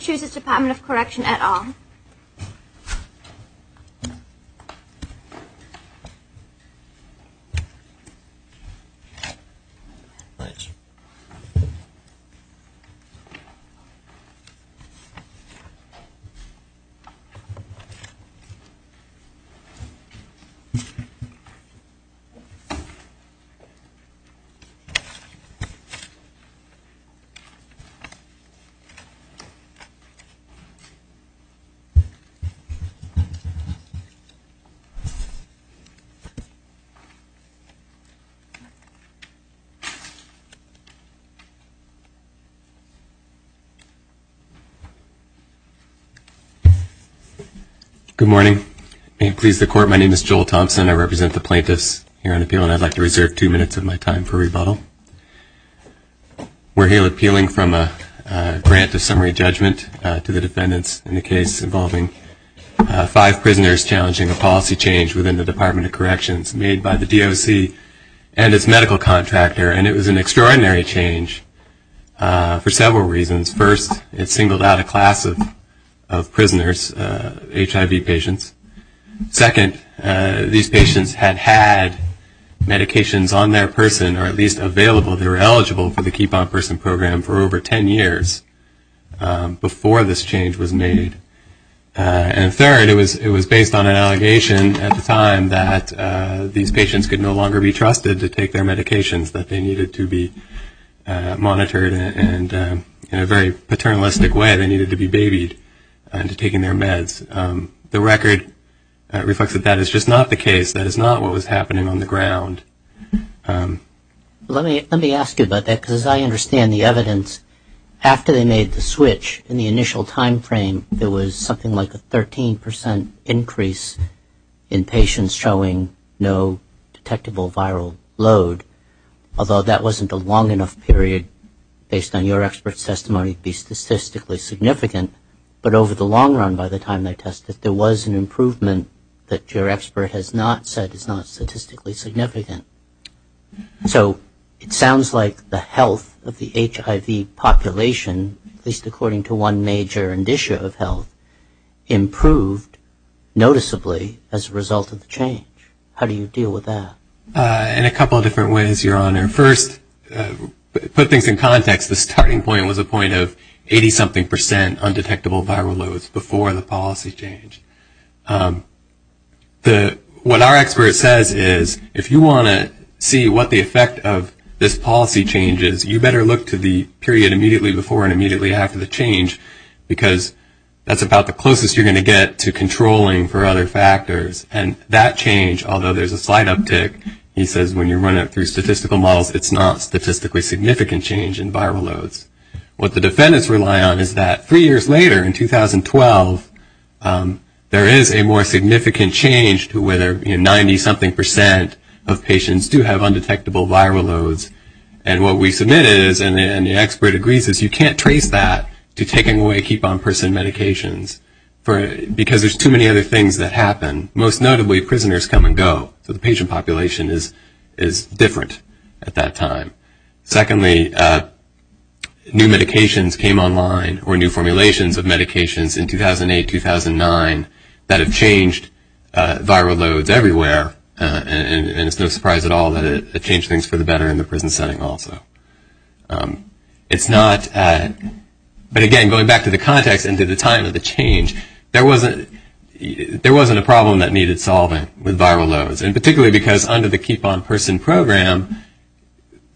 Choose this Department of Correction at all Good morning. May it please the court, my name is Joel Thompson. I represent the plaintiffs here on appeal and I'd like to reserve two minutes of my time for rebuttal. We're here appealing from a grant of summary judgment to the defendants in the case involving five prisoners challenging a policy change within the Department of Corrections made by the DOC and its medical contractor and it was an extraordinary change for several reasons. First, it singled out a class of prisoners, HIV patients. Second, these patients had had medications on their person or at least available, they were eligible for the Keep On Person program for over 10 years before this change was made. And third, it was based on an allegation at the time that these patients could no longer be trusted to take their medications, that they needed to be monitored and in a very paternalistic way, they needed to be babied and to take in their meds. The record reflects that that is just not the case, that is not what was happening on the ground. Let me ask you about that because I understand the evidence. After they made the switch in the initial time frame, there was something like a 13 percent increase in patients showing no detectable viral load, although that wasn't a long enough period, based on your expert testimony, to be statistically significant. But over the long run, by the time they tested, there was an improvement that your expert has not said is not statistically significant. So it sounds like the health of the HIV population, at least according to one major indicia of health, improved noticeably as a result of the change. How do you deal with that? In a couple of different ways, Your Honor. First, to put things in context, the starting point was a point of 80-something percent undetectable viral loads before the policy change. What our expert says is, if you want to see what the effect of this policy change is, you better look to the period immediately before and immediately after the change because that is about the closest you are going to get to controlling for other factors. And that change, although there is a slight uptick, he says when you run it through statistical models, it's not statistically significant change in viral loads. What the defendants rely on is that three years later, in 2012, there is a more significant change to whether 90-something percent of patients do have undetectable viral loads. And what we submit is, and the expert agrees, is you can't trace that to taking away keep-on-person medications because there's too many other things that happen. Most notably, prisoners come and go. So the change is not significant at that time. Secondly, new medications came online, or new formulations of medications in 2008-2009 that have changed viral loads everywhere. And it's no surprise at all that it changed things for the better in the prison setting also. It's not, but again, going back to the context and to the time of the change, there wasn't a problem that needed solving with viral loads. And particularly because under the keep-on-person program,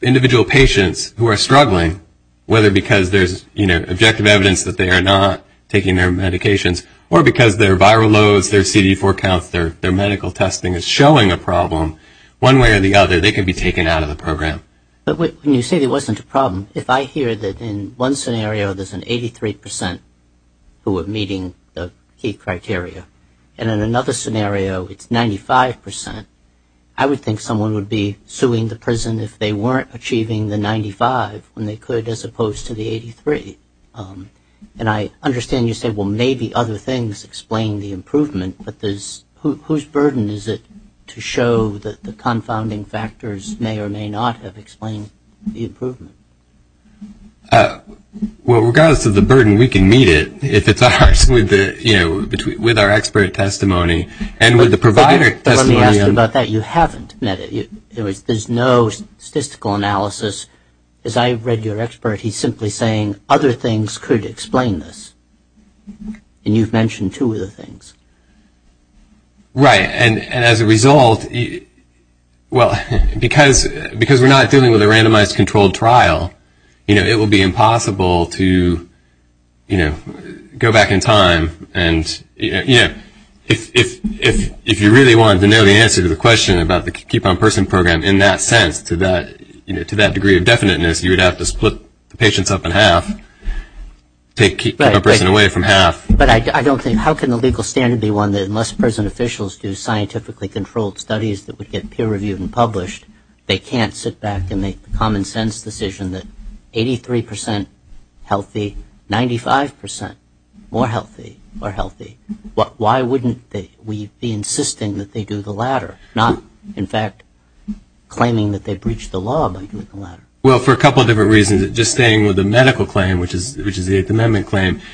individual patients who are struggling, whether because there's, you know, objective evidence that they are not taking their medications, or because their viral loads, their CD4 counts, their medical testing is showing a problem, one way or the other, they could be taken out of the program. When you say there wasn't a problem, if I hear that in one scenario there's an 83 percent who are meeting the key criteria, and in another scenario it's 95 percent, I would think someone would be suing the prison if they weren't achieving the 95 when they could as opposed to the 83. And I understand you say, well, maybe other things explain the improvement, but there's, whose burden is it to show that the confounding factors may or may not have explained the improvement? Well, regardless of the burden, we can meet it if it's ours with the, you know, with our expert testimony and with the provider testimony. But let me ask you about that. You haven't met it. There's no statistical analysis. As I read your expert, he's simply saying other things could explain this. And you've mentioned two of the things. Right. And as a result, well, because we're not dealing with a randomized controlled trial, you know, it would be impossible to, you know, go back in time and, you know, if you really wanted to know the answer to the question about the keep-on-person program in that sense to that, you know, to that degree of definiteness, you would have to split the patients up in half, take keep-on-person away from half. But I don't think, how can the legal standard be one that unless present officials do scientifically controlled studies that would get peer-reviewed and published, they can't sit back and make the common-sense decision that 83 percent healthy, 95 percent more healthy are healthy. Why wouldn't we be insisting that they do the latter, not, in fact, claiming that they breached the law by doing the latter? Well, for a couple of different reasons. Just staying with the medical claim, which is the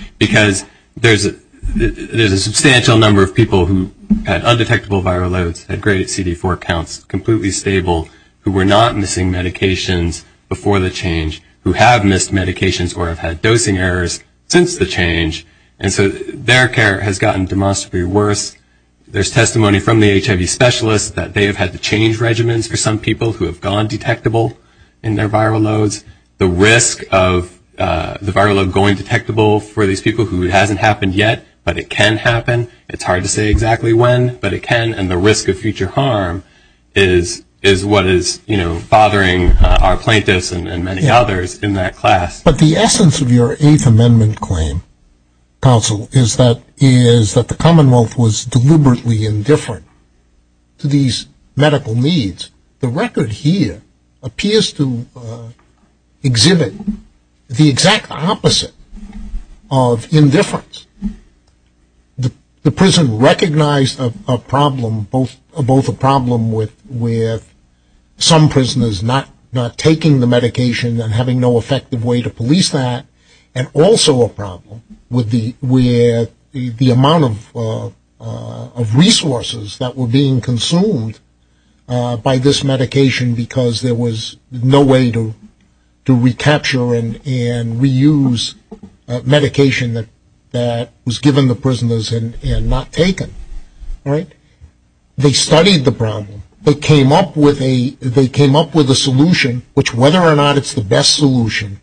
there's a substantial number of people who had undetectable viral loads, had great CD4 counts, completely stable, who were not missing medications before the change, who have missed medications or have had dosing errors since the change. And so their care has gotten demonstrably worse. There's testimony from the HIV specialists that they have had to change regimens for some people who have gone detectable in their viral loads. The risk of the viral load going to happen yet, but it can happen. It's hard to say exactly when, but it can. And the risk of future harm is what is, you know, bothering our plaintiffs and many others in that class. But the essence of your Eighth Amendment claim, counsel, is that the Commonwealth was deliberately indifferent to these medical needs. The record here appears to exhibit the exact opposite of indifference. The prison recognized a problem, both a problem with some prisoners not taking the medication and having no effective way to police that, and also a problem with the amount of resources that were being consumed by this medication because there was no way to recapture and reuse medication that was given the prisoners and not taken. They studied the problem. They came up with a solution, which whether or not it's the best solution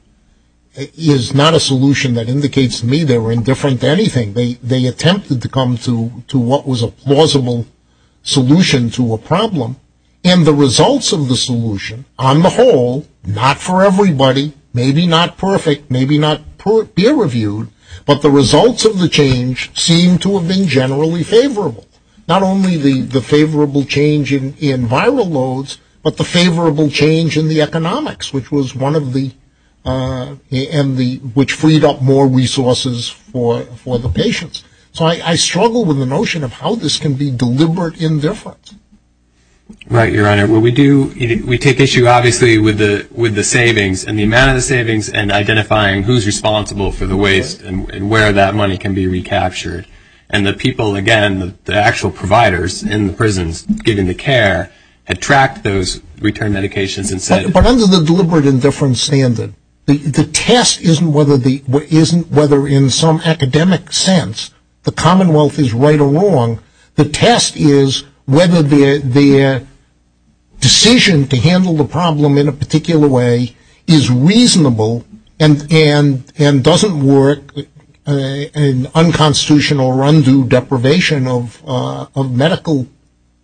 is not a solution that indicates to me they were indifferent to anything. They attempted to come to what was a plausible solution to a problem. And the results of the solution, on the whole, not for everybody, maybe not perfect, maybe not peer-reviewed, but the results of the change seem to have been generally favorable. Not only the favorable change in viral loads, but the favorable change in the economics, which was one of the, and the, which freed up more resources for the patients. So I struggle with the notion of how this can be deliberate indifference. Right, Your Honor. Well, we do, we take issue, obviously, with the, with the savings and the amount of the savings and identifying who's responsible for the waste and where that money can be recaptured. And the people, again, the actual providers in the prisons giving the care, had tracked those return medications and said But under the deliberate indifference standard, the test isn't whether the, isn't whether in some academic sense, the commonwealth is right or wrong. The test is whether the decision to handle the problem in a particular way is reasonable and doesn't work in unconstitutional or undue deprivation of medical,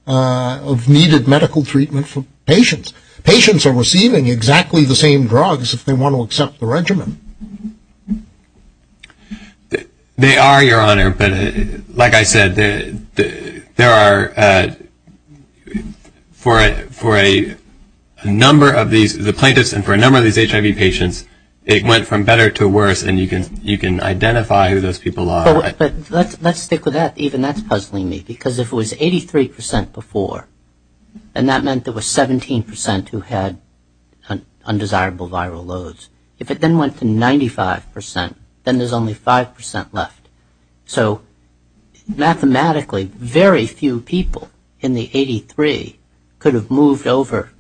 of needed medical treatment for patients. Patients are They are, Your Honor, but like I said, there are, for a, for a number of these, the plaintiffs and for a number of these HIV patients, it went from better to worse, and you can, you can identify who those people are. But let's stick with that. Even that's puzzling me. Because if it was 83 percent before, and that meant there was 17 percent who had undesirable viral loads. If it then went to 95 percent, then there's only 5 percent left. So mathematically, very few people in the 83 could have moved over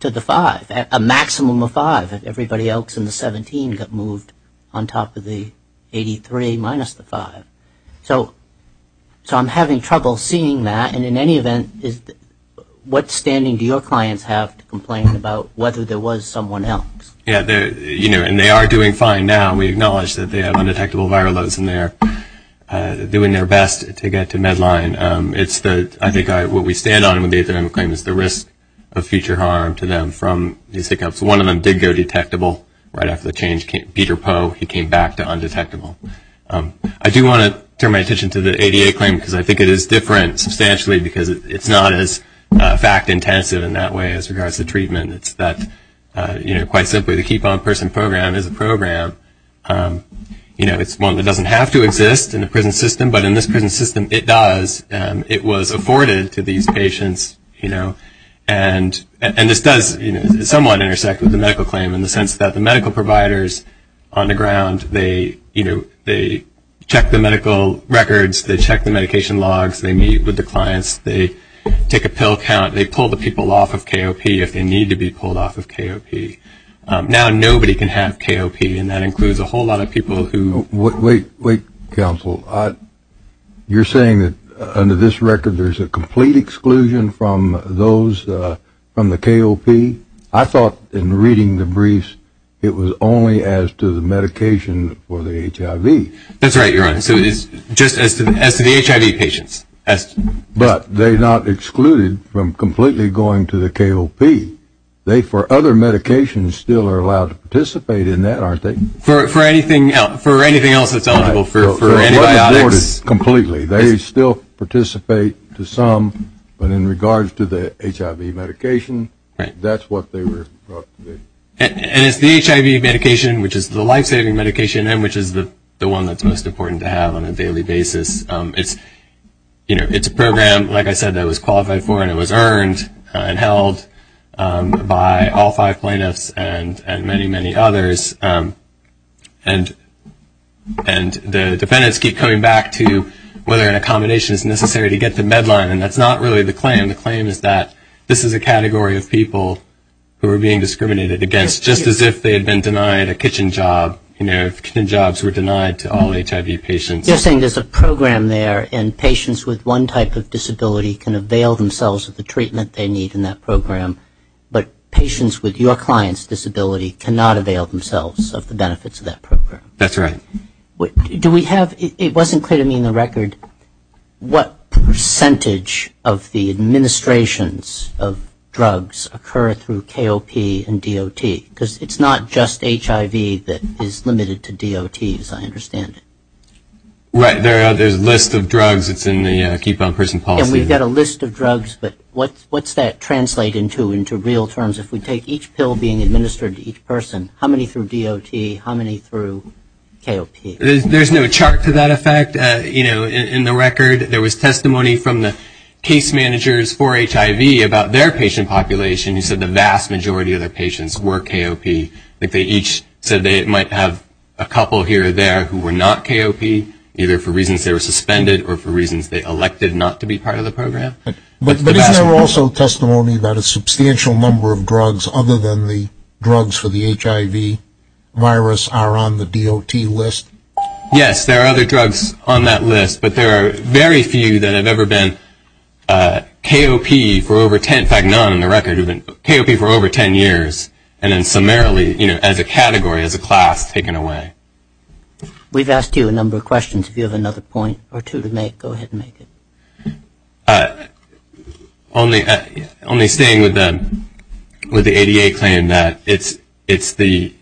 to the 5, a maximum of 5, if everybody else in the 17 got moved on top of the 83 minus the 5. So, so I'm having trouble seeing that. And in any event, is, what standing do your clients have to complain about whether there was someone else? Yeah, they're, you know, and they are doing fine now. We acknowledge that they have undetectable viral loads and they're doing their best to get to Medline. It's the, I think what we stand on when they claim is the risk of future harm to them from these hiccups. One of them did go detectable right after the change. Peter Poe, he came back to undetectable. I do want to turn my attention to the ADA claim because I think it is different substantially because it's not as fact intensive in that way as regards to treatment. It's that, you know, typically the keep on person program is a program, you know, it's one that doesn't have to exist in the prison system, but in this prison system it does. It was afforded to these patients, you know, and this does somewhat intersect with the medical claim in the sense that the medical providers on the ground, they, you know, they check the medical records, they check the medication logs, they meet with the clients, they take a pill count, they pull the people off of KOP if they need to be pulled off of KOP. Now nobody can have KOP, and that includes a whole lot of people who... Wait, wait, wait, counsel. You're saying that under this record there's a complete exclusion from those, from the KOP? I thought in reading the briefs it was only as to the medication for the HIV. That's right, Your Honor. So it's just as to the HIV patients. But they're not excluded from completely going to the KOP. They, for other medications, still are allowed to participate in that, aren't they? For anything else that's eligible, for antibiotics... Completely. They still participate to some, but in regards to the HIV medication, that's what they were... And it's the HIV medication, which is the one that's used on a daily basis. It's a program, like I said, that was qualified for and it was earned and held by all five plaintiffs and many, many others. And the defendants keep coming back to whether an accommodation is necessary to get the deadline, and that's not really the claim. The claim is that this is a category of people who are being discriminated against just as if they had been denied a kitchen job, you know, if kitchen jobs were allowed. And there's a program there, and patients with one type of disability can avail themselves of the treatment they need in that program, but patients with your client's disability cannot avail themselves of the benefits of that program. That's right. Do we have... It wasn't clear to me in the record what percentage of the administrations of drugs occur through KOP and DOT, because it's not just HIV that is limited to DOTs, I understand it. Right. There's a list of drugs. It's in the Keep On Person Policy. And we've got a list of drugs, but what's that translate into, into real terms? If we take each pill being administered to each person, how many through DOT, how many through KOP? There's no chart to that effect. You know, in the record, there was testimony from the case managers for HIV about their patient population who said the vast majority of their who were not KOP, either for reasons they were suspended or for reasons they elected not to be part of the program. But is there also testimony about a substantial number of drugs other than the drugs for the HIV virus are on the DOT list? Yes, there are other drugs on that list, but there are very few that have ever been KOP for over ten... in fact, none in the record have been KOP for over ten years, and then summarily, you know, as a category, as a class, taken away. We've asked you a number of questions. If you have another point or two to make, go ahead and make it. Only staying with the ADA claim that it's the...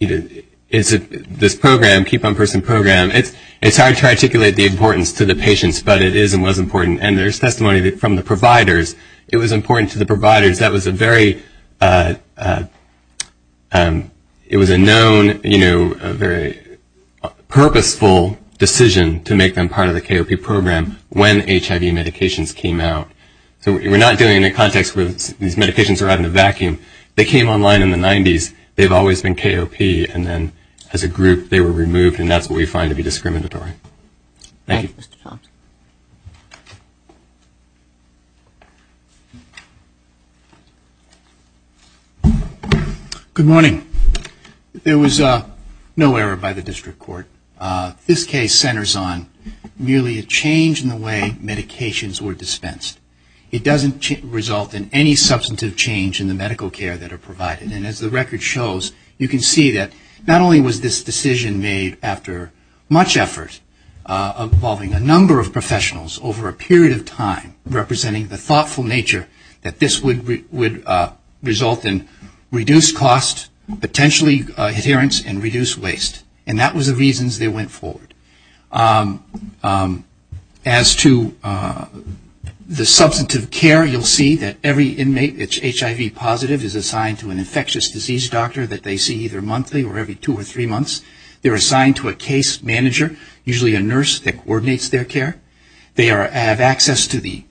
it's this program, Keep On Person program, it's hard to articulate the importance to the patients, but it is and was important. And there's testimony from the providers. It was important to the providers. That was a very... it was a known, you know, a very purposeful decision to make them part of the KOP program when HIV medications came out. So we're not doing it in a context where these medications are out in a vacuum. They came online in the 90s. They've always been KOP, and then as a group, they were removed, and that's what we find to be discriminatory. Good morning. There was no error by the district court. This case centers on merely a change in the way medications were dispensed. It doesn't result in any substantive change in the medical care that are provided, and as the record shows, you can see that not only was this decision made after much effort involving a number of professionals over a period of time, but it did result in reduced cost, potentially adherence, and reduced waste. And that was the reasons they went forward. As to the substantive care, you'll see that every inmate that's HIV positive is assigned to an infectious disease doctor that they see either monthly or every two or three months. They're assigned to a case manager, usually a nurse that coordinates their care. They have access to the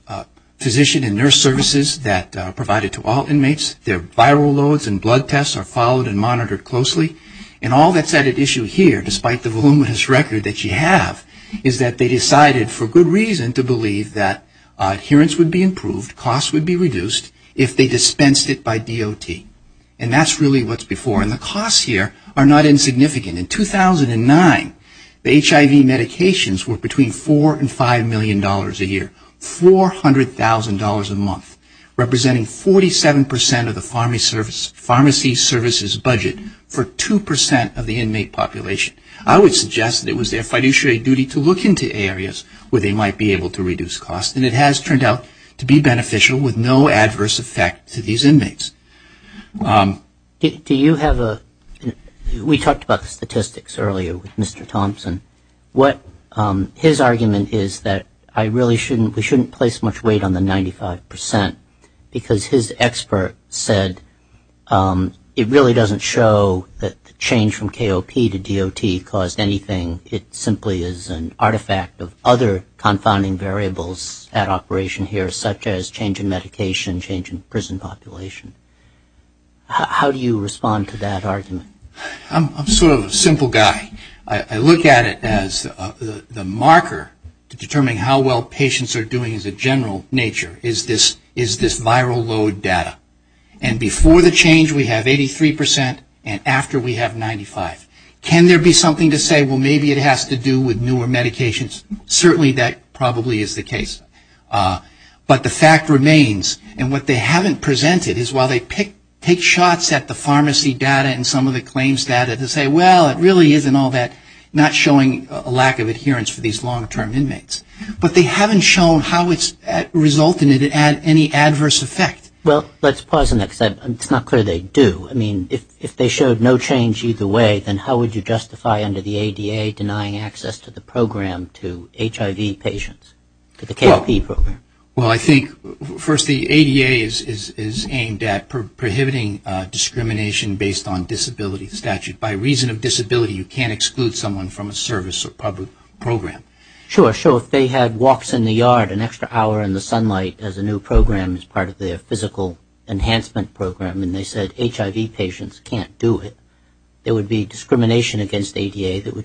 physician and nurse services that are provided to all inmates. Their viral loads and blood tests are followed and monitored closely. And all that's at issue here, despite the voluminous record that you have, is that they decided for good reason to believe that adherence would be improved, cost would be reduced, if they dispensed it by DOT. And that's really what's before, and the costs here are not million dollars a year, $400,000 a month, representing 47% of the pharmacy services budget for 2% of the inmate population. I would suggest that it was their fiduciary duty to look into areas where they might be able to reduce cost, and it has turned out to be beneficial with no adverse effect to these inmates. Do you have a, we talked about the statistics earlier with Mr. Thompson. What his argument is that I really shouldn't, we shouldn't place much weight on the 95%, because his expert said it really doesn't show that the change from KOP to DOT caused anything. It simply is an artifact of other confounding variables at operation here, such as change in medication, change in prison population. How do you respond to that argument? I'm sort of a simple guy. I look at it as the marker to determine how well patients are doing as a general nature, is this viral load data. And before the change we have 83%, and after we have 95%. Can there be something to say, well maybe it has to do with newer medications? Certainly that probably is the case. But the fact remains, and what they claim is data to say, well it really isn't all that, not showing a lack of adherence for these long-term inmates. But they haven't shown how it's resulted in any adverse effect. Well let's pause on that, because it's not clear they do. I mean, if they showed no change either way, then how would you justify under the ADA denying access to the program to HIV patients, to the KOP program? Well I think, first the ADA is aimed at prohibiting discrimination based on disability statute. By reason of disability, you can't exclude someone from a service or public program. Sure, sure. If they had walks in the yard, an extra hour in the sunlight as a new program as part of their physical enhancement program, and they said HIV patients can't do it, there would be discrimination against the ADA,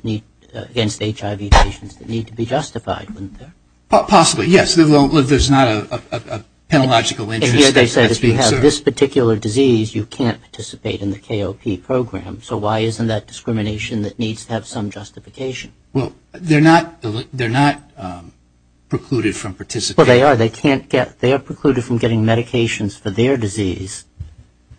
against HIV patients that need to be justified, wouldn't there? So there's not a penalogical interest that's being served. And here they said if you have this particular disease, you can't participate in the KOP program. So why isn't that discrimination that needs to have some justification? Well they're not precluded from participating. Well they are. They can't get, they are precluded from getting medications for their disease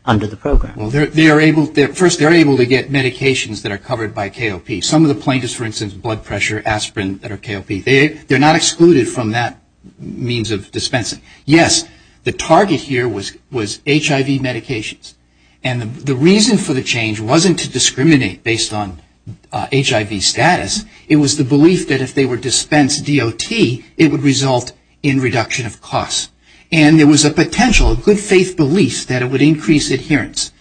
under the program. Well they are able, first they are able to get medications that are covered by KOP. Some of the plaintiffs, for instance, blood pressure, aspirin that are KOP, they're not excluded from that means of dispensing. Yes, the target here was HIV medications. And the reason for the change wasn't to discriminate based on HIV status. It was the belief that if they were dispensed DOT, it would result in reduction of costs. And there was a potential, a good faith belief that it would increase adherence.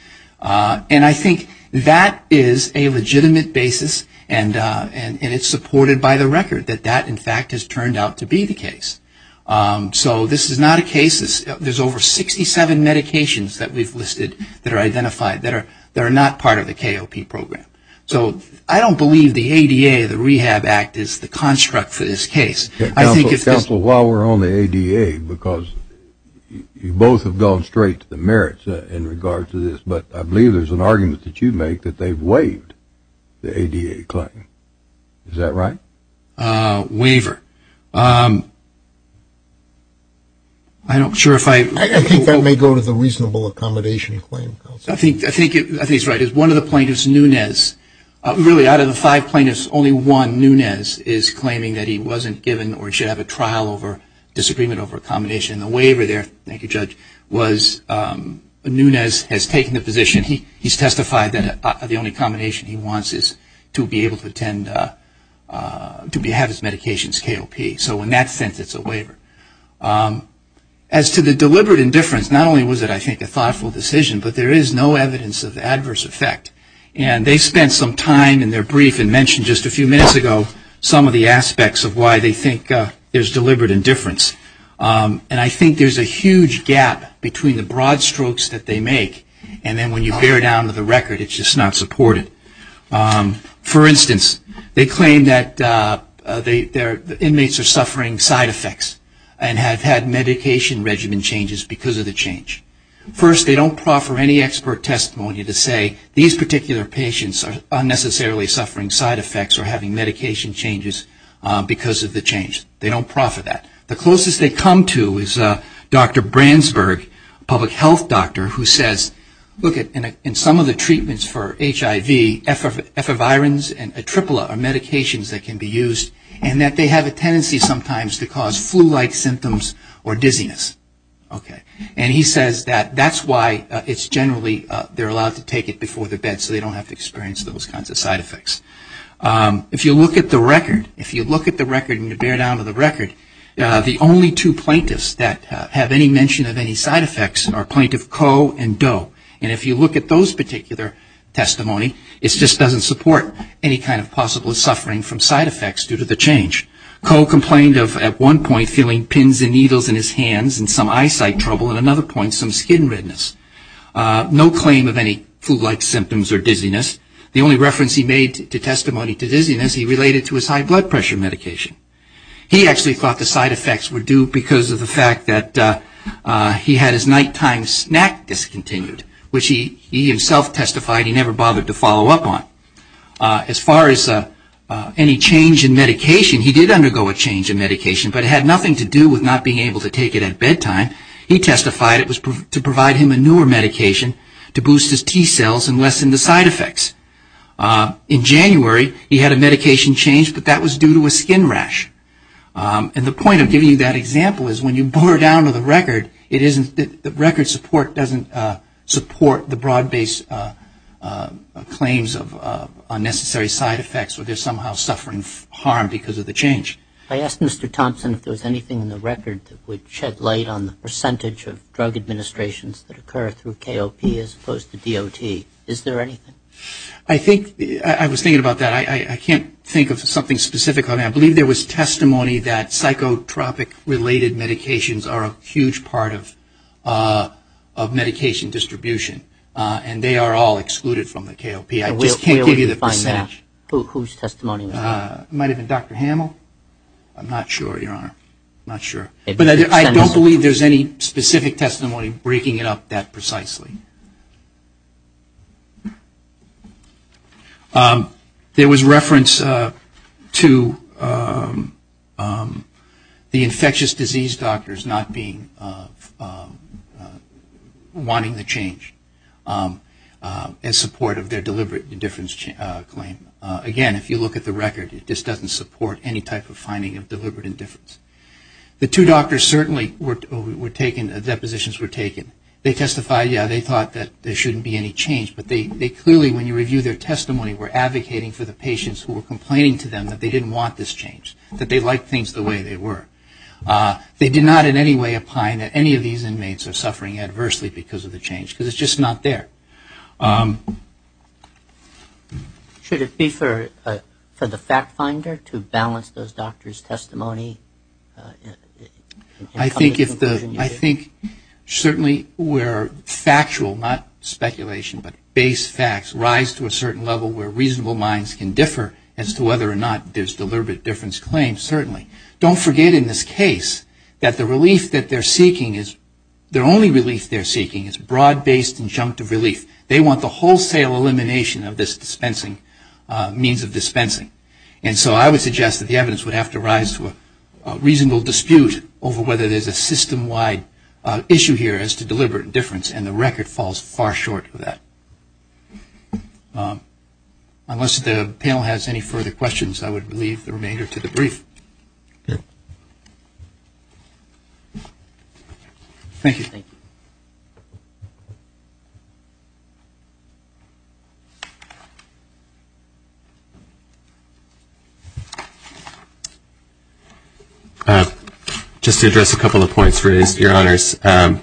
And I think that is a legitimate basis and it's supported by the record that that in fact has turned out to be the case. So this is not a case, there's over 67 medications that we've listed that are identified that are not part of the KOP program. So I don't believe the ADA, the Rehab Act is the construct for this case. Counsel, while we're on the ADA, because you both have gone straight to the merits in regard to this, but I believe there's an argument that you make that they've waived the ADA claim. Is that right? Waiver. I don't sure if I... I think that may go to the reasonable accommodation claim, Counsel. I think he's right. One of the plaintiffs, Nunez, really out of the five plaintiffs, only one, Nunez, is claiming that he wasn't given or should have a trial over disagreement over accommodation. And the waiver there, thank you Judge, was Nunez has taken the position, and he's testified that the only accommodation he wants is to be able to attend, to have his medications KOP. So in that sense it's a waiver. As to the deliberate indifference, not only was it I think a thoughtful decision, but there is no evidence of adverse effect. And they spent some time in their brief and mentioned just a few minutes ago some of the aspects of why they think there's deliberate indifference. And I think there's a huge gap between the broad strokes that they make, and then when you bear down to the record, it's just not supported. For instance, they claim that their inmates are suffering side effects and have had medication regimen changes because of the change. First, they don't proffer any expert testimony to say these particular patients are unnecessarily suffering side effects or having medication changes because of the change. They don't proffer that. The closest they come to is Dr. Brandsberg, public health doctor, who says, look, in some of the treatments for HIV, efavirans and atripla are medications that can be used, and that they have a tendency sometimes to cause flu-like symptoms or dizziness. And he says that that's why it's generally they're allowed to take it before the bed so they don't have to experience those kinds of side effects. If you look at the record, if you look at the record and you bear down to the record, the only two plaintiffs that have any mention of any side effects are Plaintiff Koh and Doe. And if you look at those particular testimony, it just doesn't support any kind of possible suffering from side effects due to the change. Koh complained of, at one point, feeling pins and needles in his hands and some eyesight trouble. At another point, some skin redness. No claim of any flu-like symptoms or dizziness. The only reference he made to testimony to dizziness, he related to his high blood pressure medication. He actually thought the side effects were due because of the fact that he had his nighttime snack discontinued, which he himself testified he never bothered to follow up on. As far as any change in medication, he did undergo a change in medication, but it had nothing to do with not being able to take it at bedtime. He testified it was to provide him a newer medication to boost his T-cells and lessen the side effects. In January, he had a medication change, but that was due to a skin rash. And the point of giving you that example is when you bore down to the record, it isn't that the record support doesn't support the broad-based claims of unnecessary side effects where they're somehow suffering harm because of the change. I asked Mr. Thompson if there was anything in the record that would shed light on the percentage of drug administrations that occur through KOP as opposed to DOT. Is there anything? I was thinking about that. I can't think of something specific on that. I believe there was testimony that psychotropic-related medications are a huge part of medication distribution, and they are all excluded from the KOP. I just can't give you the percentage. Whose testimony was that? It might have been Dr. Hamill. I'm not sure, Your Honor. I don't believe there's any specific testimony breaking it up that precisely. There was reference to the infectious disease doctors not wanting the change in support of their deliberate indifference claim. Again, if you look at the record, it just doesn't support any type of finding of deliberate indifference. The two doctors certainly were taken, depositions were taken. They testified yeah, they thought that there shouldn't be any change, but they clearly, when you review their testimony, were advocating for the patients who were complaining to them that they didn't want this change, that they liked things the way they were. They did not in any way opine that any of these inmates are suffering adversely because of the change because it's just not there. Should it be for the fact finder to balance those doctors' testimony? I think certainly where factual, not speculation, but base facts rise to a certain level where reasonable minds can differ as to whether or not there's deliberate indifference claims, certainly. Don't forget in this case that the relief that they're seeking is, the only point of relief. They want the wholesale elimination of this dispensing, means of dispensing. And so I would suggest that the evidence would have to rise to a reasonable dispute over whether there's a system-wide issue here as to deliberate indifference, and the record falls far short of that. Unless the panel has any further questions, I would leave the remainder to the brief. Just to address a couple of points raised, Your Honors, in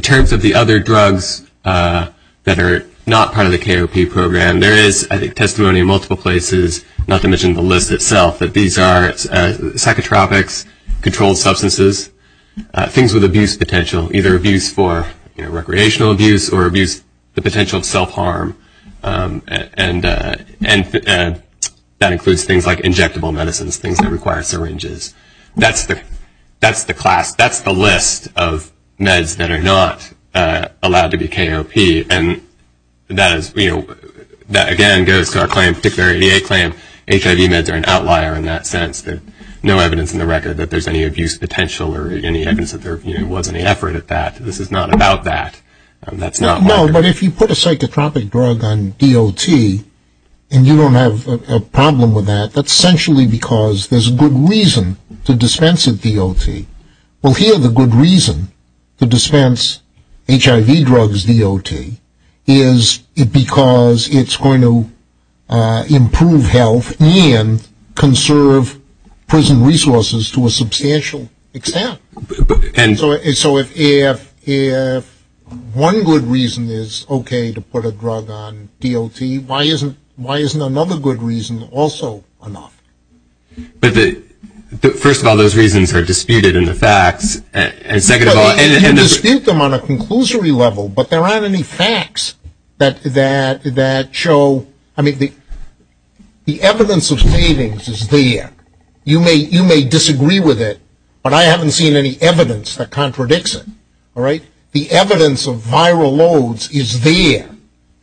terms of the other drugs that are not part of the KOP program, there is, I think, testimony in multiple places, not to mention the list itself, that these are psychotropics, controlled substances, things with abuse potential, either abuse for recreational abuse or abuse, the potential of self-harm, and that includes things like injectable medicines, things that require syringes. That's the class, that's the list of meds that are not allowed to be KOP, and that is, you know, that again goes to our claim, particular ADA claim, HIV meds are an outlier in that sense. There's no evidence in the record that there's any abuse potential or any evidence that there was any effort at that. This is not about that. That's not my concern. No, but if you put a psychotropic drug on DOT and you don't have a problem with that, that's essentially because there's a good reason to dispense of DOT. Well, here the good reason to dispense HIV drugs DOT is because it's going to improve health and conserve prison resources to a substantial extent. And so if one good reason is okay to put a drug on DOT, why isn't another good reason also enough? But first of all, those reasons are disputed in the facts, and second of all, and You can dispute them on a conclusory level, but there aren't any facts that show, I mean, the evidence of savings is there. You may disagree with it, but I haven't seen any evidence that contradicts it, all right? The evidence of viral loads is there.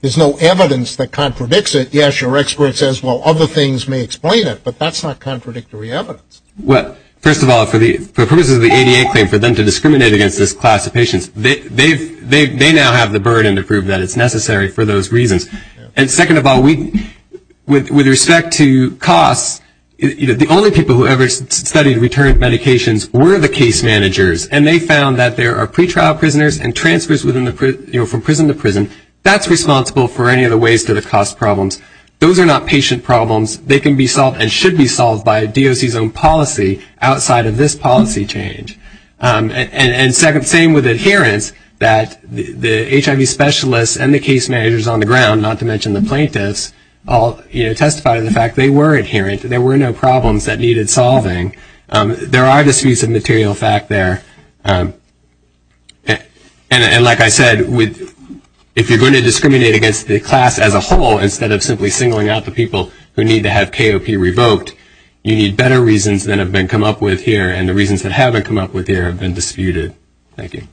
There's no evidence that contradicts it. Yes, your expert says, well, other things may explain it, but that's not contradictory evidence. Well, first of all, for purposes of the ADA claim, for them to discriminate against this class of patients, they now have the burden to prove that it's necessary for those reasons. And second of all, with respect to costs, the only people who ever studied return of medications were the case managers, and they found that there are pretrial prisoners and transfers from prison to prison. That's responsible for any of the ways to the cost problems. Those are not patient problems. They can be solved and should be solved by DOC's own policy outside of this policy change. And second, same with adherence, that the HIV specialists and the case managers on the ground, not to mention the plaintiffs, all testify to the fact they were adherent. There were no problems that needed solving. There are disputes of material fact there. And like I said, if you're going to discriminate against the class as a whole instead of simply singling out the people who need to have KOP revoked, you need better reasons than have been come up with here and the reasons that haven't come up with here have been disputed. Thank you.